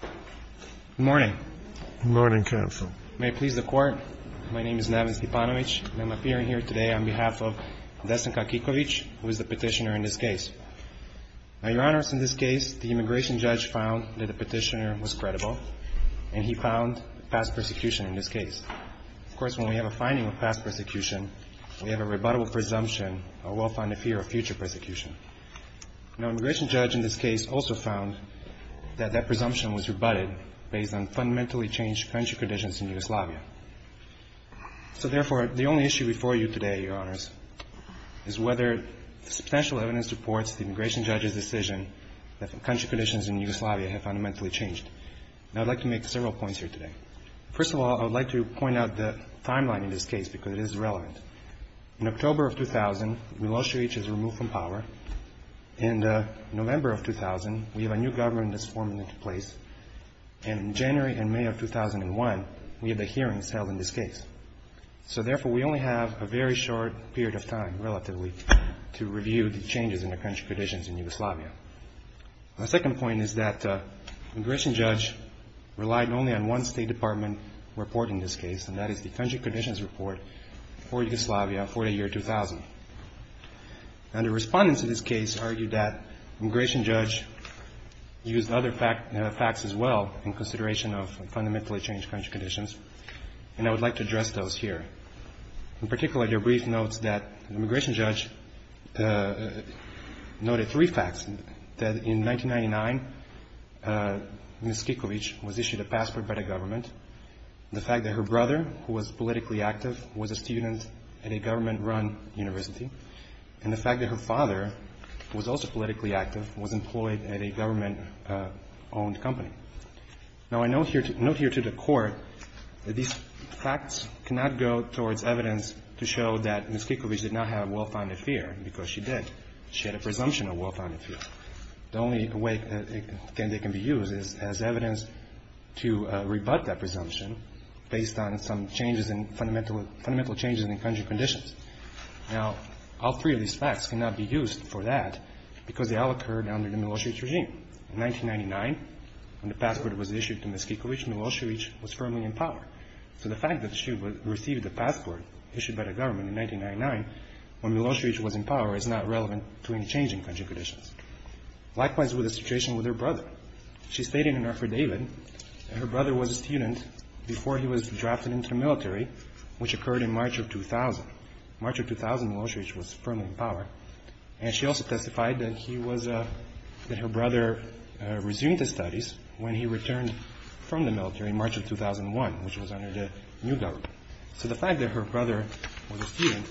Good morning. Good morning, counsel. May it please the Court, my name is Levinsky-Panovich, and I'm appearing here today on behalf of Destin Kakikovic, who is the petitioner in this case. Now, Your Honor, in this case, the immigration judge found that the petitioner was credible, and he found past persecution in this case. Of course, when we have a finding of past persecution, we have a rebuttable presumption, a well-founded fear of future persecution. Now, an immigration judge in this case also found that that presumption was rebutted based on fundamentally changed country conditions in Yugoslavia. So, therefore, the only issue before you today, Your Honors, is whether substantial evidence supports the immigration judge's decision that country conditions in Yugoslavia have fundamentally changed. Now, I'd like to make several points here today. First of all, I would like to point out the timeline in this case, because it is relevant. In October of 2000, Milosevic is removed from power. In November of 2000, we have a new government that's forming into place. And in January and May of 2001, we have the hearings held in this case. So, therefore, we only have a very short period of time, relatively, to review the changes in the country conditions in Yugoslavia. My second point is that the immigration judge relied only on one State Department report in this case, and that is the country conditions report for Yugoslavia for the year 2000. Now, the respondents in this case argued that the immigration judge used other facts as well in consideration of fundamentally changed country conditions, and I would like to address those here. In particular, their brief notes that the immigration judge noted three facts, that in 1999, Ms. Kikovic was issued a passport by the government, the fact that her brother, who was politically active, was a student at a government-run university, and the fact that her father, who was also politically active, was employed at a government-owned company. Now, I note here to the Court that these facts cannot go towards evidence to show that Ms. Kikovic did not have well-founded fear, because she did. She had a presumption of well-founded fear. The only way they can be used is as evidence to rebut that presumption based on some changes in fundamental changes in the country conditions. Now, all three of these facts cannot be used for that, because they all occurred under the Milosevic regime. In 1999, when the passport was issued to Ms. Kikovic, Milosevic was firmly in power. So the fact that she received the passport issued by the government in 1999, when Milosevic was in power, is not relevant to any change in country conditions. Likewise with the situation with her brother. She stated in her affidavit that her brother was a student before he was drafted into the military, which occurred in March of 2000. March of 2000, Milosevic was firmly in power. And she also testified that he was – that her brother resumed his studies when he returned from the military in March of 2001, which was under the new government. So the fact that her brother was a student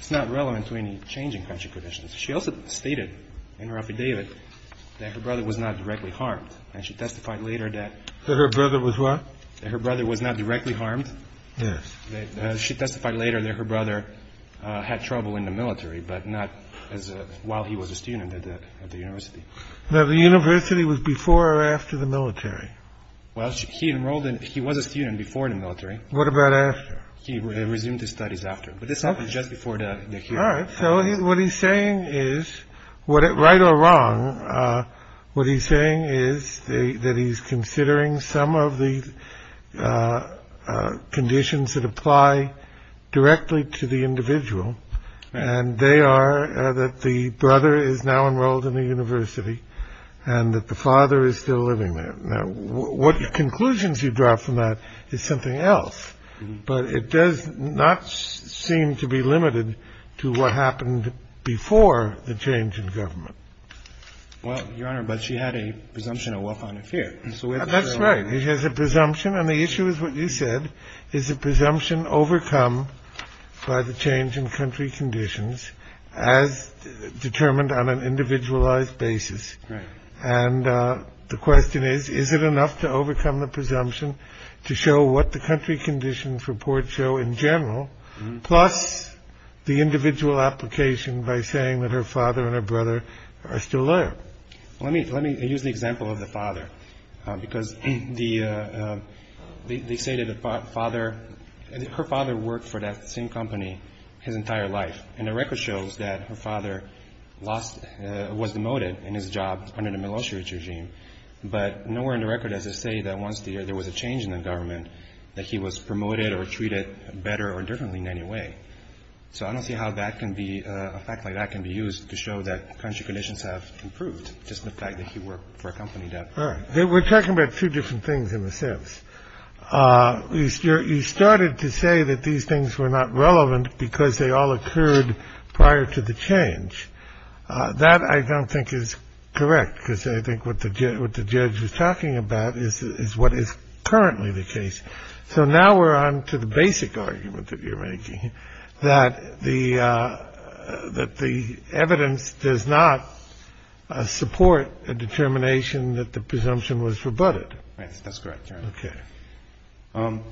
is not relevant to any change in country conditions. She also stated in her affidavit that her brother was not directly harmed. And she testified later that – That her brother was what? That her brother was not directly harmed. Yes. She testified later that her brother had trouble in the military, but not as – while he was a student at the university. Now, the university was before or after the military? Well, he enrolled in – he was a student before the military. What about after? He resumed his studies after. But this happened just before the – All right. So what he's saying is – right or wrong, what he's saying is that he's considering some of the conditions that apply directly to the individual. And they are that the brother is now enrolled in the university and that the father is still living there. Now, what conclusions you draw from that is something else. But it does not seem to be limited to what happened before the change in government. Well, Your Honor, but she had a presumption of wealth, honor, and fear. And so we have to – That's right. She has a presumption. And the issue is what you said, is a presumption overcome by the change in country conditions as determined on an individualized basis. Right. And the question is, is it enough to overcome the presumption to show what the country conditions report show in general, plus the individual application by saying that her father and her brother are still alive? Let me use the example of the father, because the – they say that the father – her father worked for that same company his entire life. And the record shows that her father lost – was demoted in his job under the militia regime. But nowhere in the record does it say that once there was a change in the government, that he was promoted or treated better or differently in any way. So I don't see how that can be – a fact like that can be used to show that country conditions have improved, just the fact that he worked for a company that – All right. We're talking about two different things in a sense. You started to say that these things were not relevant because they all occurred prior to the change. That I don't think is correct, because I think what the judge was talking about is what is currently the case. So now we're on to the basic argument that you're making, that the – that the evidence does not support a determination that the presumption was rebutted. That's correct, Your Honor. Okay.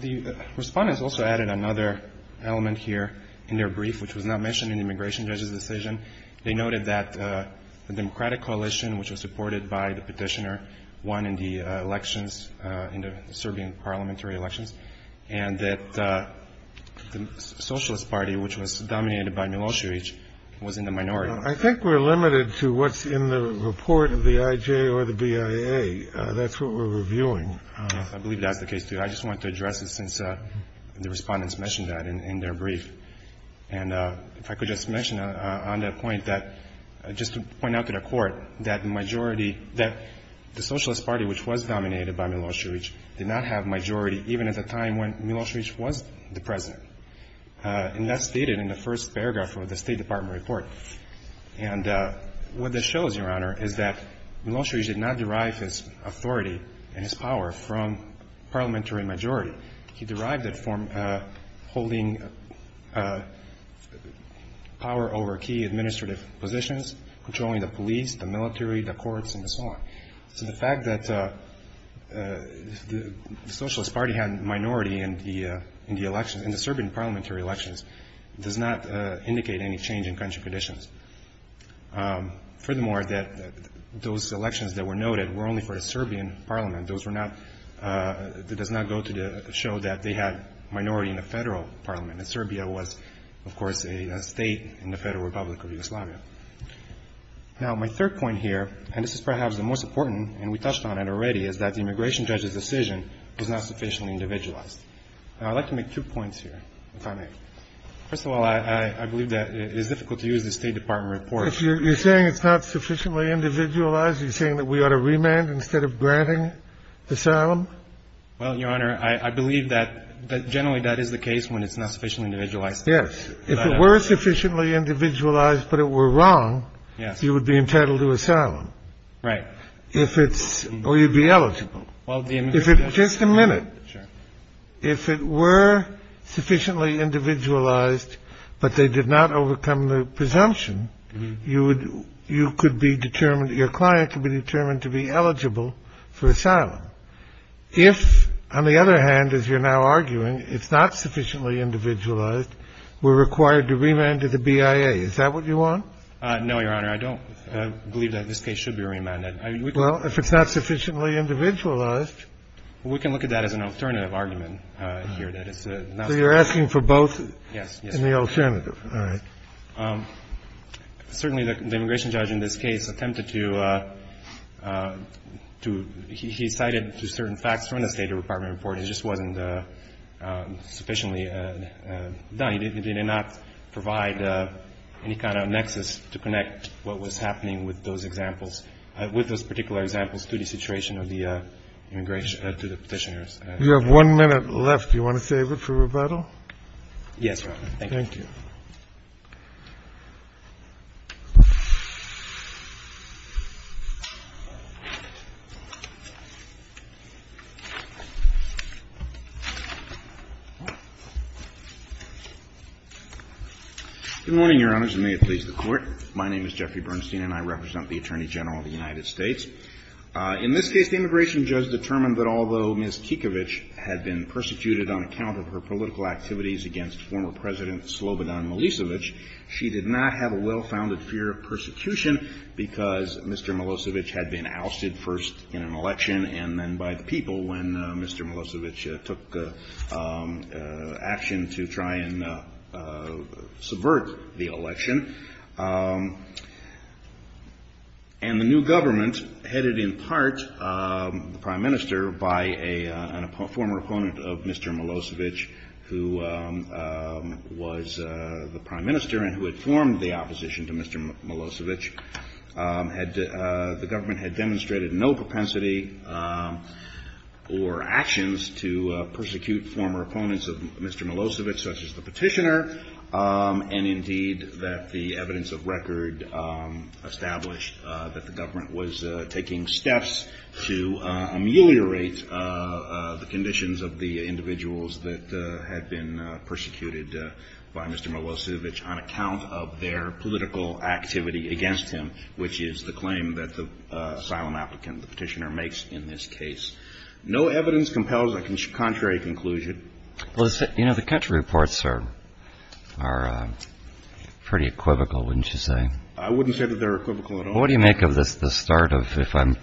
The respondents also added another element here in their brief, which was not mentioned in the immigration judge's decision. They noted that the Democratic coalition, which was supported by the petitioner, won in the elections, in the Serbian parliamentary elections, and that the Socialist Party, which was dominated by Milosevic, was in the minority. I think we're limited to what's in the report of the IJ or the BIA. That's what we're reviewing. I believe that's the case, too. I just wanted to address it since the respondents mentioned that in their brief. And if I could just mention on that point that – just to point out to the Court that the majority – that the Socialist Party, which was dominated by Milosevic, did not have majority, even at the time when Milosevic was the President. And that's stated in the first paragraph of the State Department report. And what this shows, Your Honor, is that Milosevic did not derive his authority and his power from parliamentary majority. He derived it from holding power over key administrative positions, controlling the police, the military, the courts, and so on. So the fact that the Socialist Party had minority in the elections, in the Serbian parliamentary elections, does not indicate any change in country conditions. Furthermore, those elections that were noted were only for the Serbian parliament. Those were not – that does not go to show that they had minority in the federal parliament. And Serbia was, of course, a state in the Federal Republic of Yugoslavia. Now, my third point here, and this is perhaps the most important, and we touched on it already, is that the immigration judge's decision is not sufficiently individualized. And I'd like to make two points here, if I may. First of all, I believe that it is difficult to use the State Department report. You're saying it's not sufficiently individualized? Are you saying that we ought to remand instead of granting asylum? Well, Your Honor, I believe that generally that is the case when it's not sufficiently individualized. Yes. If it were sufficiently individualized but it were wrong, you would be entitled to asylum. Right. If it's – or you'd be eligible. Well, the immigration judge – If it – just a minute. Sure. If it were sufficiently individualized but they did not overcome the presumption, you would – you could be determined – your client could be determined to be eligible for asylum. If, on the other hand, as you're now arguing, it's not sufficiently individualized, we're required to remand to the BIA, is that what you want? No, Your Honor. I don't believe that this case should be remanded. Well, if it's not sufficiently individualized. We can look at that as an alternative argument here. So you're asking for both? Yes. In the alternative. All right. Certainly the immigration judge in this case attempted to – to – he cited certain facts from the State Department report. It just wasn't sufficiently done. He did not provide any kind of nexus to connect what was happening with those examples – with those particular examples to the situation of the immigration – to the Petitioners. You have one minute left. Do you want to save it for rebuttal? Yes, Your Honor. Thank you. Good morning, Your Honors, and may it please the Court. My name is Jeffrey Bernstein, and I represent the Attorney General of the United States. In this case, the immigration judge determined that although Ms. Kikovic had been slobodan Milosevic, she did not have a well-founded fear of persecution because Mr. Milosevic had been ousted first in an election and then by the people when Mr. Milosevic took action to try and subvert the election. And the new government, headed in part, the Prime Minister, by a former opponent of Mr. Milosevic, who was the Prime Minister and who had formed the opposition to Mr. Milosevic, had – the government had demonstrated no propensity or actions to persecute former opponents of Mr. Milosevic, such as the Petitioner, and indeed that the evidence of record established that the government was taking steps to ameliorate the conditions of the individuals that had been persecuted by Mr. Milosevic on account of their political activity against him, which is the claim that the asylum applicant, the Petitioner, makes in this case. No evidence compels a contrary conclusion. Well, you know, the country reports are pretty equivocal, wouldn't you say? Well, what do you make of the start of – if I'm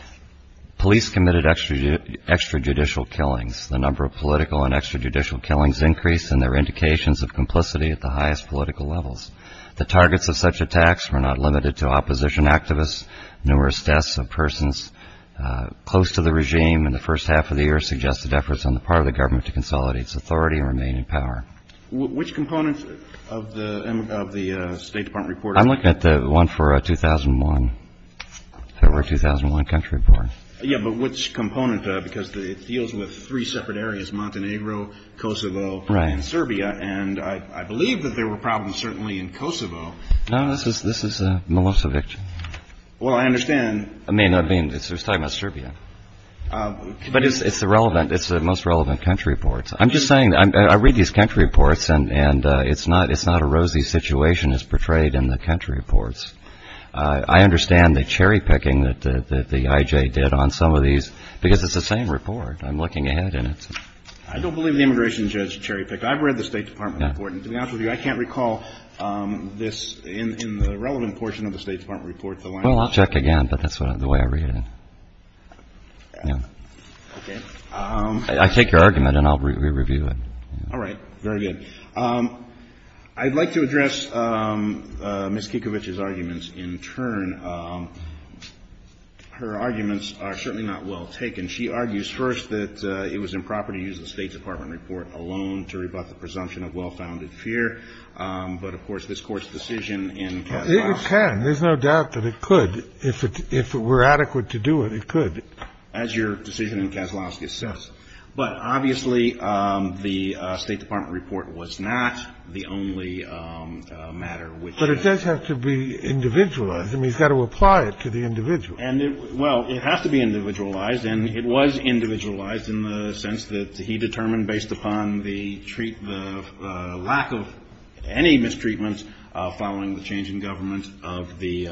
– police committed extrajudicial killings. The number of political and extrajudicial killings increased, and there were indications of complicity at the highest political levels. The targets of such attacks were not limited to opposition activists. Numerous deaths of persons close to the regime in the first half of the year suggested efforts on the part of the government to consolidate its authority and remain in power. Which component of the State Department report? I'm looking at the one for 2001, the 2001 country report. Yeah, but which component, because it deals with three separate areas, Montenegro, Kosovo, and Serbia, and I believe that there were problems certainly in Kosovo. No, this is Milosevic. Well, I understand. I mean, I mean, he's talking about Serbia. But it's the relevant – it's the most relevant country reports. I'm just saying – I read these country reports, and it's not – it's not a rosy situation as portrayed in the country reports. I understand the cherry-picking that the IJ did on some of these, because it's the same report. I'm looking ahead, and it's – I don't believe the immigration judge cherry-picked. I've read the State Department report, and to be honest with you, I can't recall this in the relevant portion of the State Department report. Well, I'll check again, but that's the way I read it. Yeah. Okay. I take your argument, and I'll re-review it. All right. Very good. I'd like to address Ms. Kikovic's arguments in turn. Her arguments are certainly not well taken. She argues first that it was improper to use the State Department report alone to rebut the presumption of well-founded fear. But, of course, this Court's decision in Kaslowski – It can. There's no doubt that it could. If it were adequate to do it, it could. As your decision in Kaslowski says. But, obviously, the State Department report was not the only matter which – But it does have to be individualized. I mean, he's got to apply it to the individual. And it – well, it has to be individualized, and it was individualized in the sense that he determined based upon the lack of any mistreatments following the change in government of the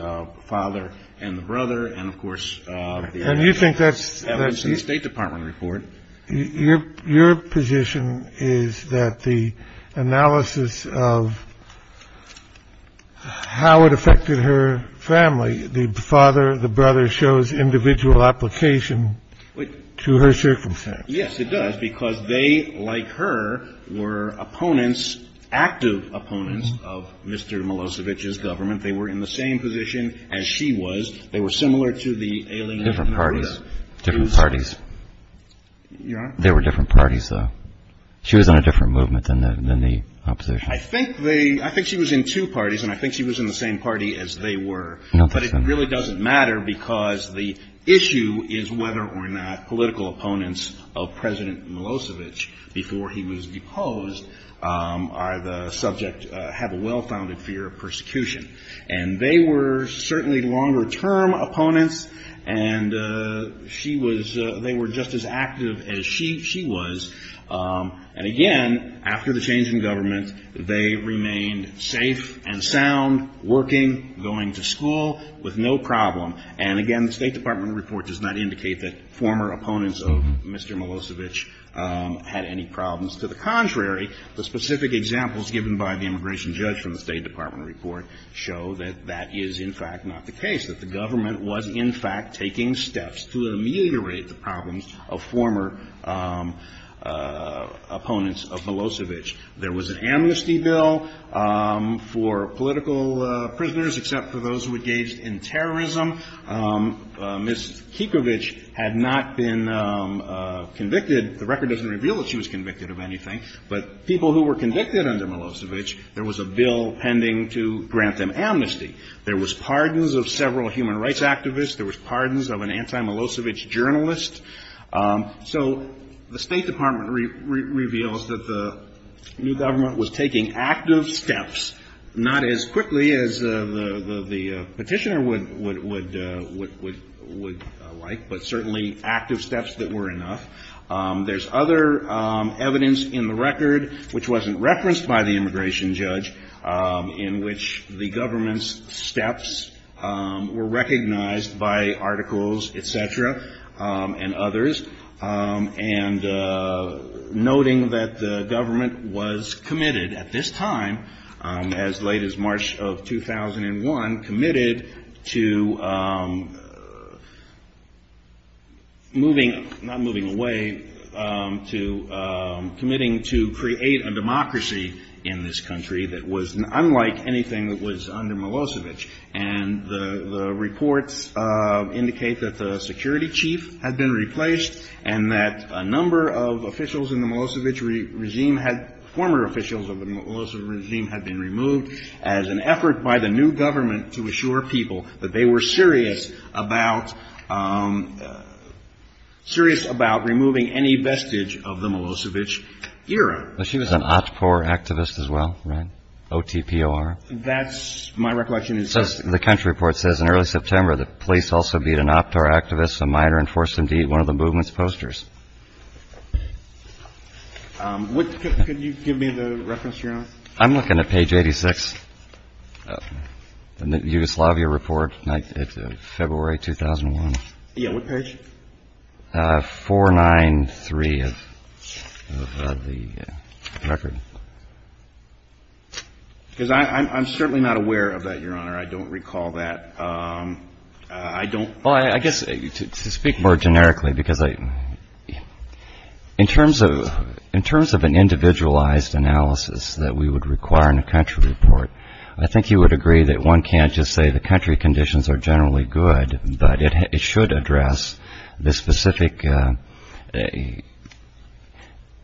father and the brother, and, of course, the – And you think that's – That was the State Department report. Your position is that the analysis of how it affected her family, the father, the brother, shows individual application to her circumstance. Yes, it does, because they, like her, were opponents, active opponents of Mr. Milosevic's government. They were in the same position as she was. They were similar to the alien – Different parties. Different parties. Your Honor? They were different parties, though. She was in a different movement than the opposition. I think they – I think she was in two parties, and I think she was in the same party as they were. No, that's not – But it really doesn't matter, because the issue is whether or not political opponents of President Milosevic before he was deposed are the subject – have a well-founded fear of persecution. And they were certainly longer-term opponents, and she was – they were just as active as she was. And, again, after the change in government, they remained safe and sound, working, going to school with no problem. And, again, the State Department report does not indicate that former opponents of Mr. Milosevic had any problems. To the contrary, the specific examples given by the immigration judge from the State Department show that that is, in fact, not the case, that the government was, in fact, taking steps to ameliorate the problems of former opponents of Milosevic. There was an amnesty bill for political prisoners, except for those who engaged in terrorism. Ms. Kikovic had not been convicted. The record doesn't reveal that she was convicted of anything. But people who were convicted under Milosevic, there was a bill pending to grant them amnesty. There was pardons of several human rights activists. There was pardons of an anti-Milosevic journalist. So the State Department reveals that the new government was taking active steps, not as quickly as the Petitioner would like, but certainly active steps that were enough. There's other evidence in the record, which wasn't referenced by the immigration judge, in which the government's steps were recognized by articles, et cetera, and others. And noting that the government was committed at this time, as late as March of 2001, committed to moving, not moving away, to committing to create a democracy in this country that was unlike anything that was under Milosevic. And the reports indicate that the security chief had been replaced and that a number of officials in the Milosevic regime had, former officials of the Milosevic regime, had been serious about removing any vestige of the Milosevic era. She was an Otpor activist as well, right? O-T-P-O-R. That's my recollection. The country report says in early September the police also beat an Otpor activist, a minor, and forced him to eat one of the movement's posters. Could you give me the reference you're on? I'm looking at page 86 in the Yugoslavia report, February 2001. Yeah, what page? 493 of the record. Because I'm certainly not aware of that, Your Honor. I don't recall that. I don't. To speak more generically, because in terms of an individualized analysis that we would require in a country report, I think you would agree that one can't just say the country conditions are generally good, but it should address the specific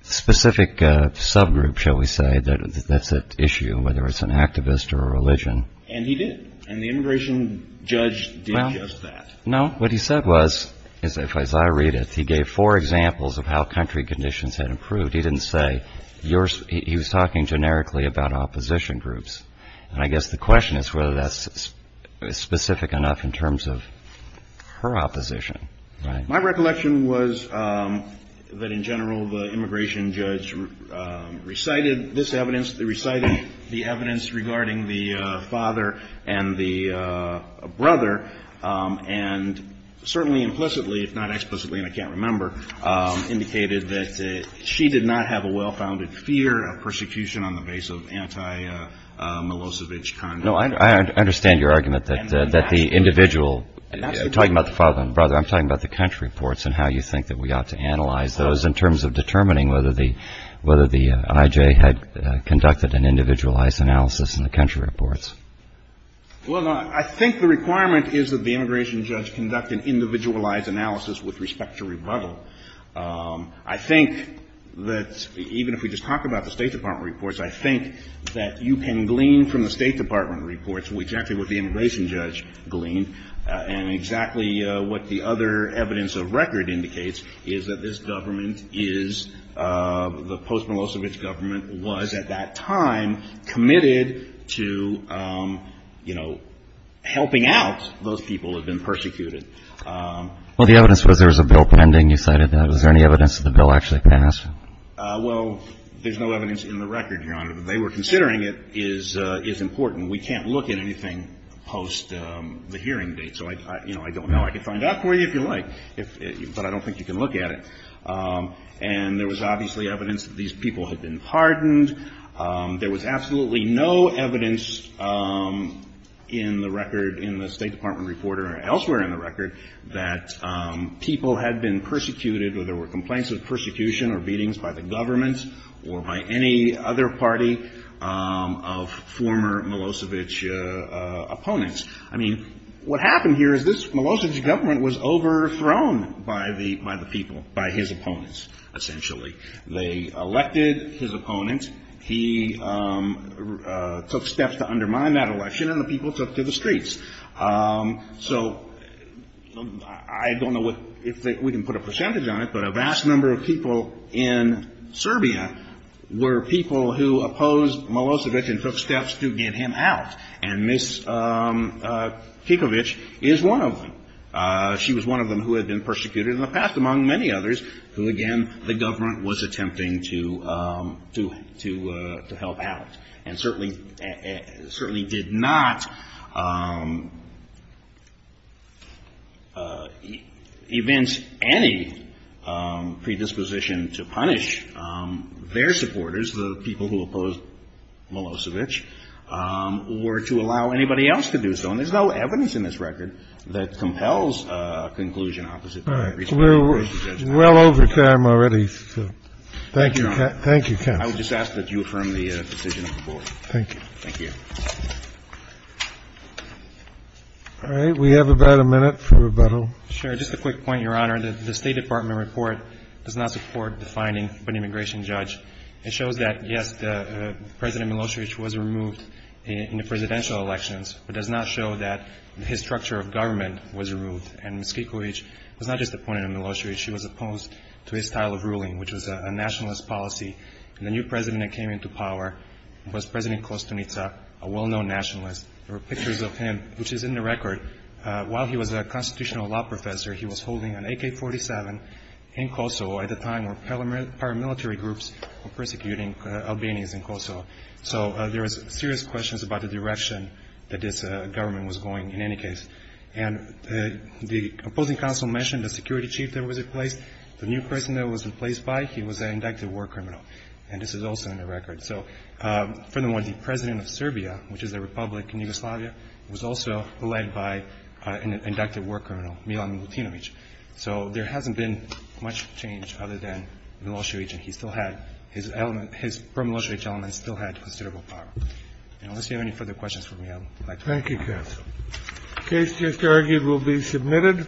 subgroup, shall we say, that's at issue, whether it's an activist or a religion. And he did. And the immigration judge did just that. Well, no. What he said was, as I read it, he gave four examples of how country conditions had improved. He didn't say yours. He was talking generically about opposition groups. And I guess the question is whether that's specific enough in terms of her opposition. My recollection was that in general the immigration judge recited this evidence, recited the evidence regarding the father and the brother, and certainly implicitly, if not explicitly, and I can't remember, indicated that she did not have a well-founded fear of persecution on the base of anti-Milosevic conduct. No, I understand your argument that the individual. You're talking about the father and brother. I'm talking about the country reports and how you think that we ought to analyze those in terms of determining whether the I.J. had conducted an individualized analysis in the country reports. Well, I think the requirement is that the immigration judge conduct an individualized analysis with respect to rebuttal. I think that even if we just talk about the State Department reports, I think that you can glean from the State Department reports exactly what the immigration judge gleaned and exactly what the other evidence of record indicates is that this government is, the post-Milosevic government was at that time committed to, you know, helping out those people who had been persecuted. Well, the evidence was there was a bill pending. You cited that. Is there any evidence that the bill actually passed? Well, there's no evidence in the record, Your Honor, but they were considering it is important. We can't look at anything post the hearing date. So, you know, I don't know. I can find out for you if you like, but I don't think you can look at it. And there was obviously evidence that these people had been pardoned. There was absolutely no evidence in the record in the State Department report or elsewhere in the record that people had been persecuted or there were complaints of persecution or beatings by the government or by any other party of former Milosevic opponents. I mean, what happened here is this Milosevic government was overthrown by the people, by his opponents, essentially. They elected his opponents. He took steps to undermine that election and the people took to the streets. So I don't know if we can put a percentage on it, but a vast number of people in Serbia were people who opposed Milosevic and took steps to get him out. And Ms. Kikovic is one of them. She was one of them who had been persecuted in the past, among many others, who, again, the government was attempting to help out and certainly did not evince any predisposition to punish their supporters, the people who opposed Milosevic, or to allow anybody else to do so. And there's no evidence in this record that compels a conclusion opposite to that. We're well over time already. Thank you. Thank you, counsel. I would just ask that you affirm the decision of the board. Thank you. Thank you. All right. We have about a minute for rebuttal. Sure. Just a quick point, Your Honor. The State Department report does not support the finding by an immigration judge. It shows that, yes, President Milosevic was removed in the presidential elections, but does not show that his structure of government was removed. And Ms. Kikovic was not just a point on Milosevic. She was opposed to his style of ruling, which was a nationalist policy. And the new president that came into power was President Kostunica, a well-known nationalist. There are pictures of him, which is in the record. While he was a constitutional law professor, he was holding an AK-47 in Kosovo at the time where paramilitary groups were persecuting Albanians in Kosovo. So there is serious questions about the direction that this government was going in any case. And the opposing counsel mentioned the security chief that was replaced. The new person that was replaced by, he was an inducted war criminal. And this is also in the record. So, furthermore, the President of Serbia, which is a republic in Yugoslavia, was also led by an inducted war criminal, Milan Milutinovic. So there hasn't been much change other than Milosevic, and he still had his element his paramilitary elements still had considerable power. And unless you have any further questions for me, I would like to close. Thank you, counsel. The case just argued will be submitted.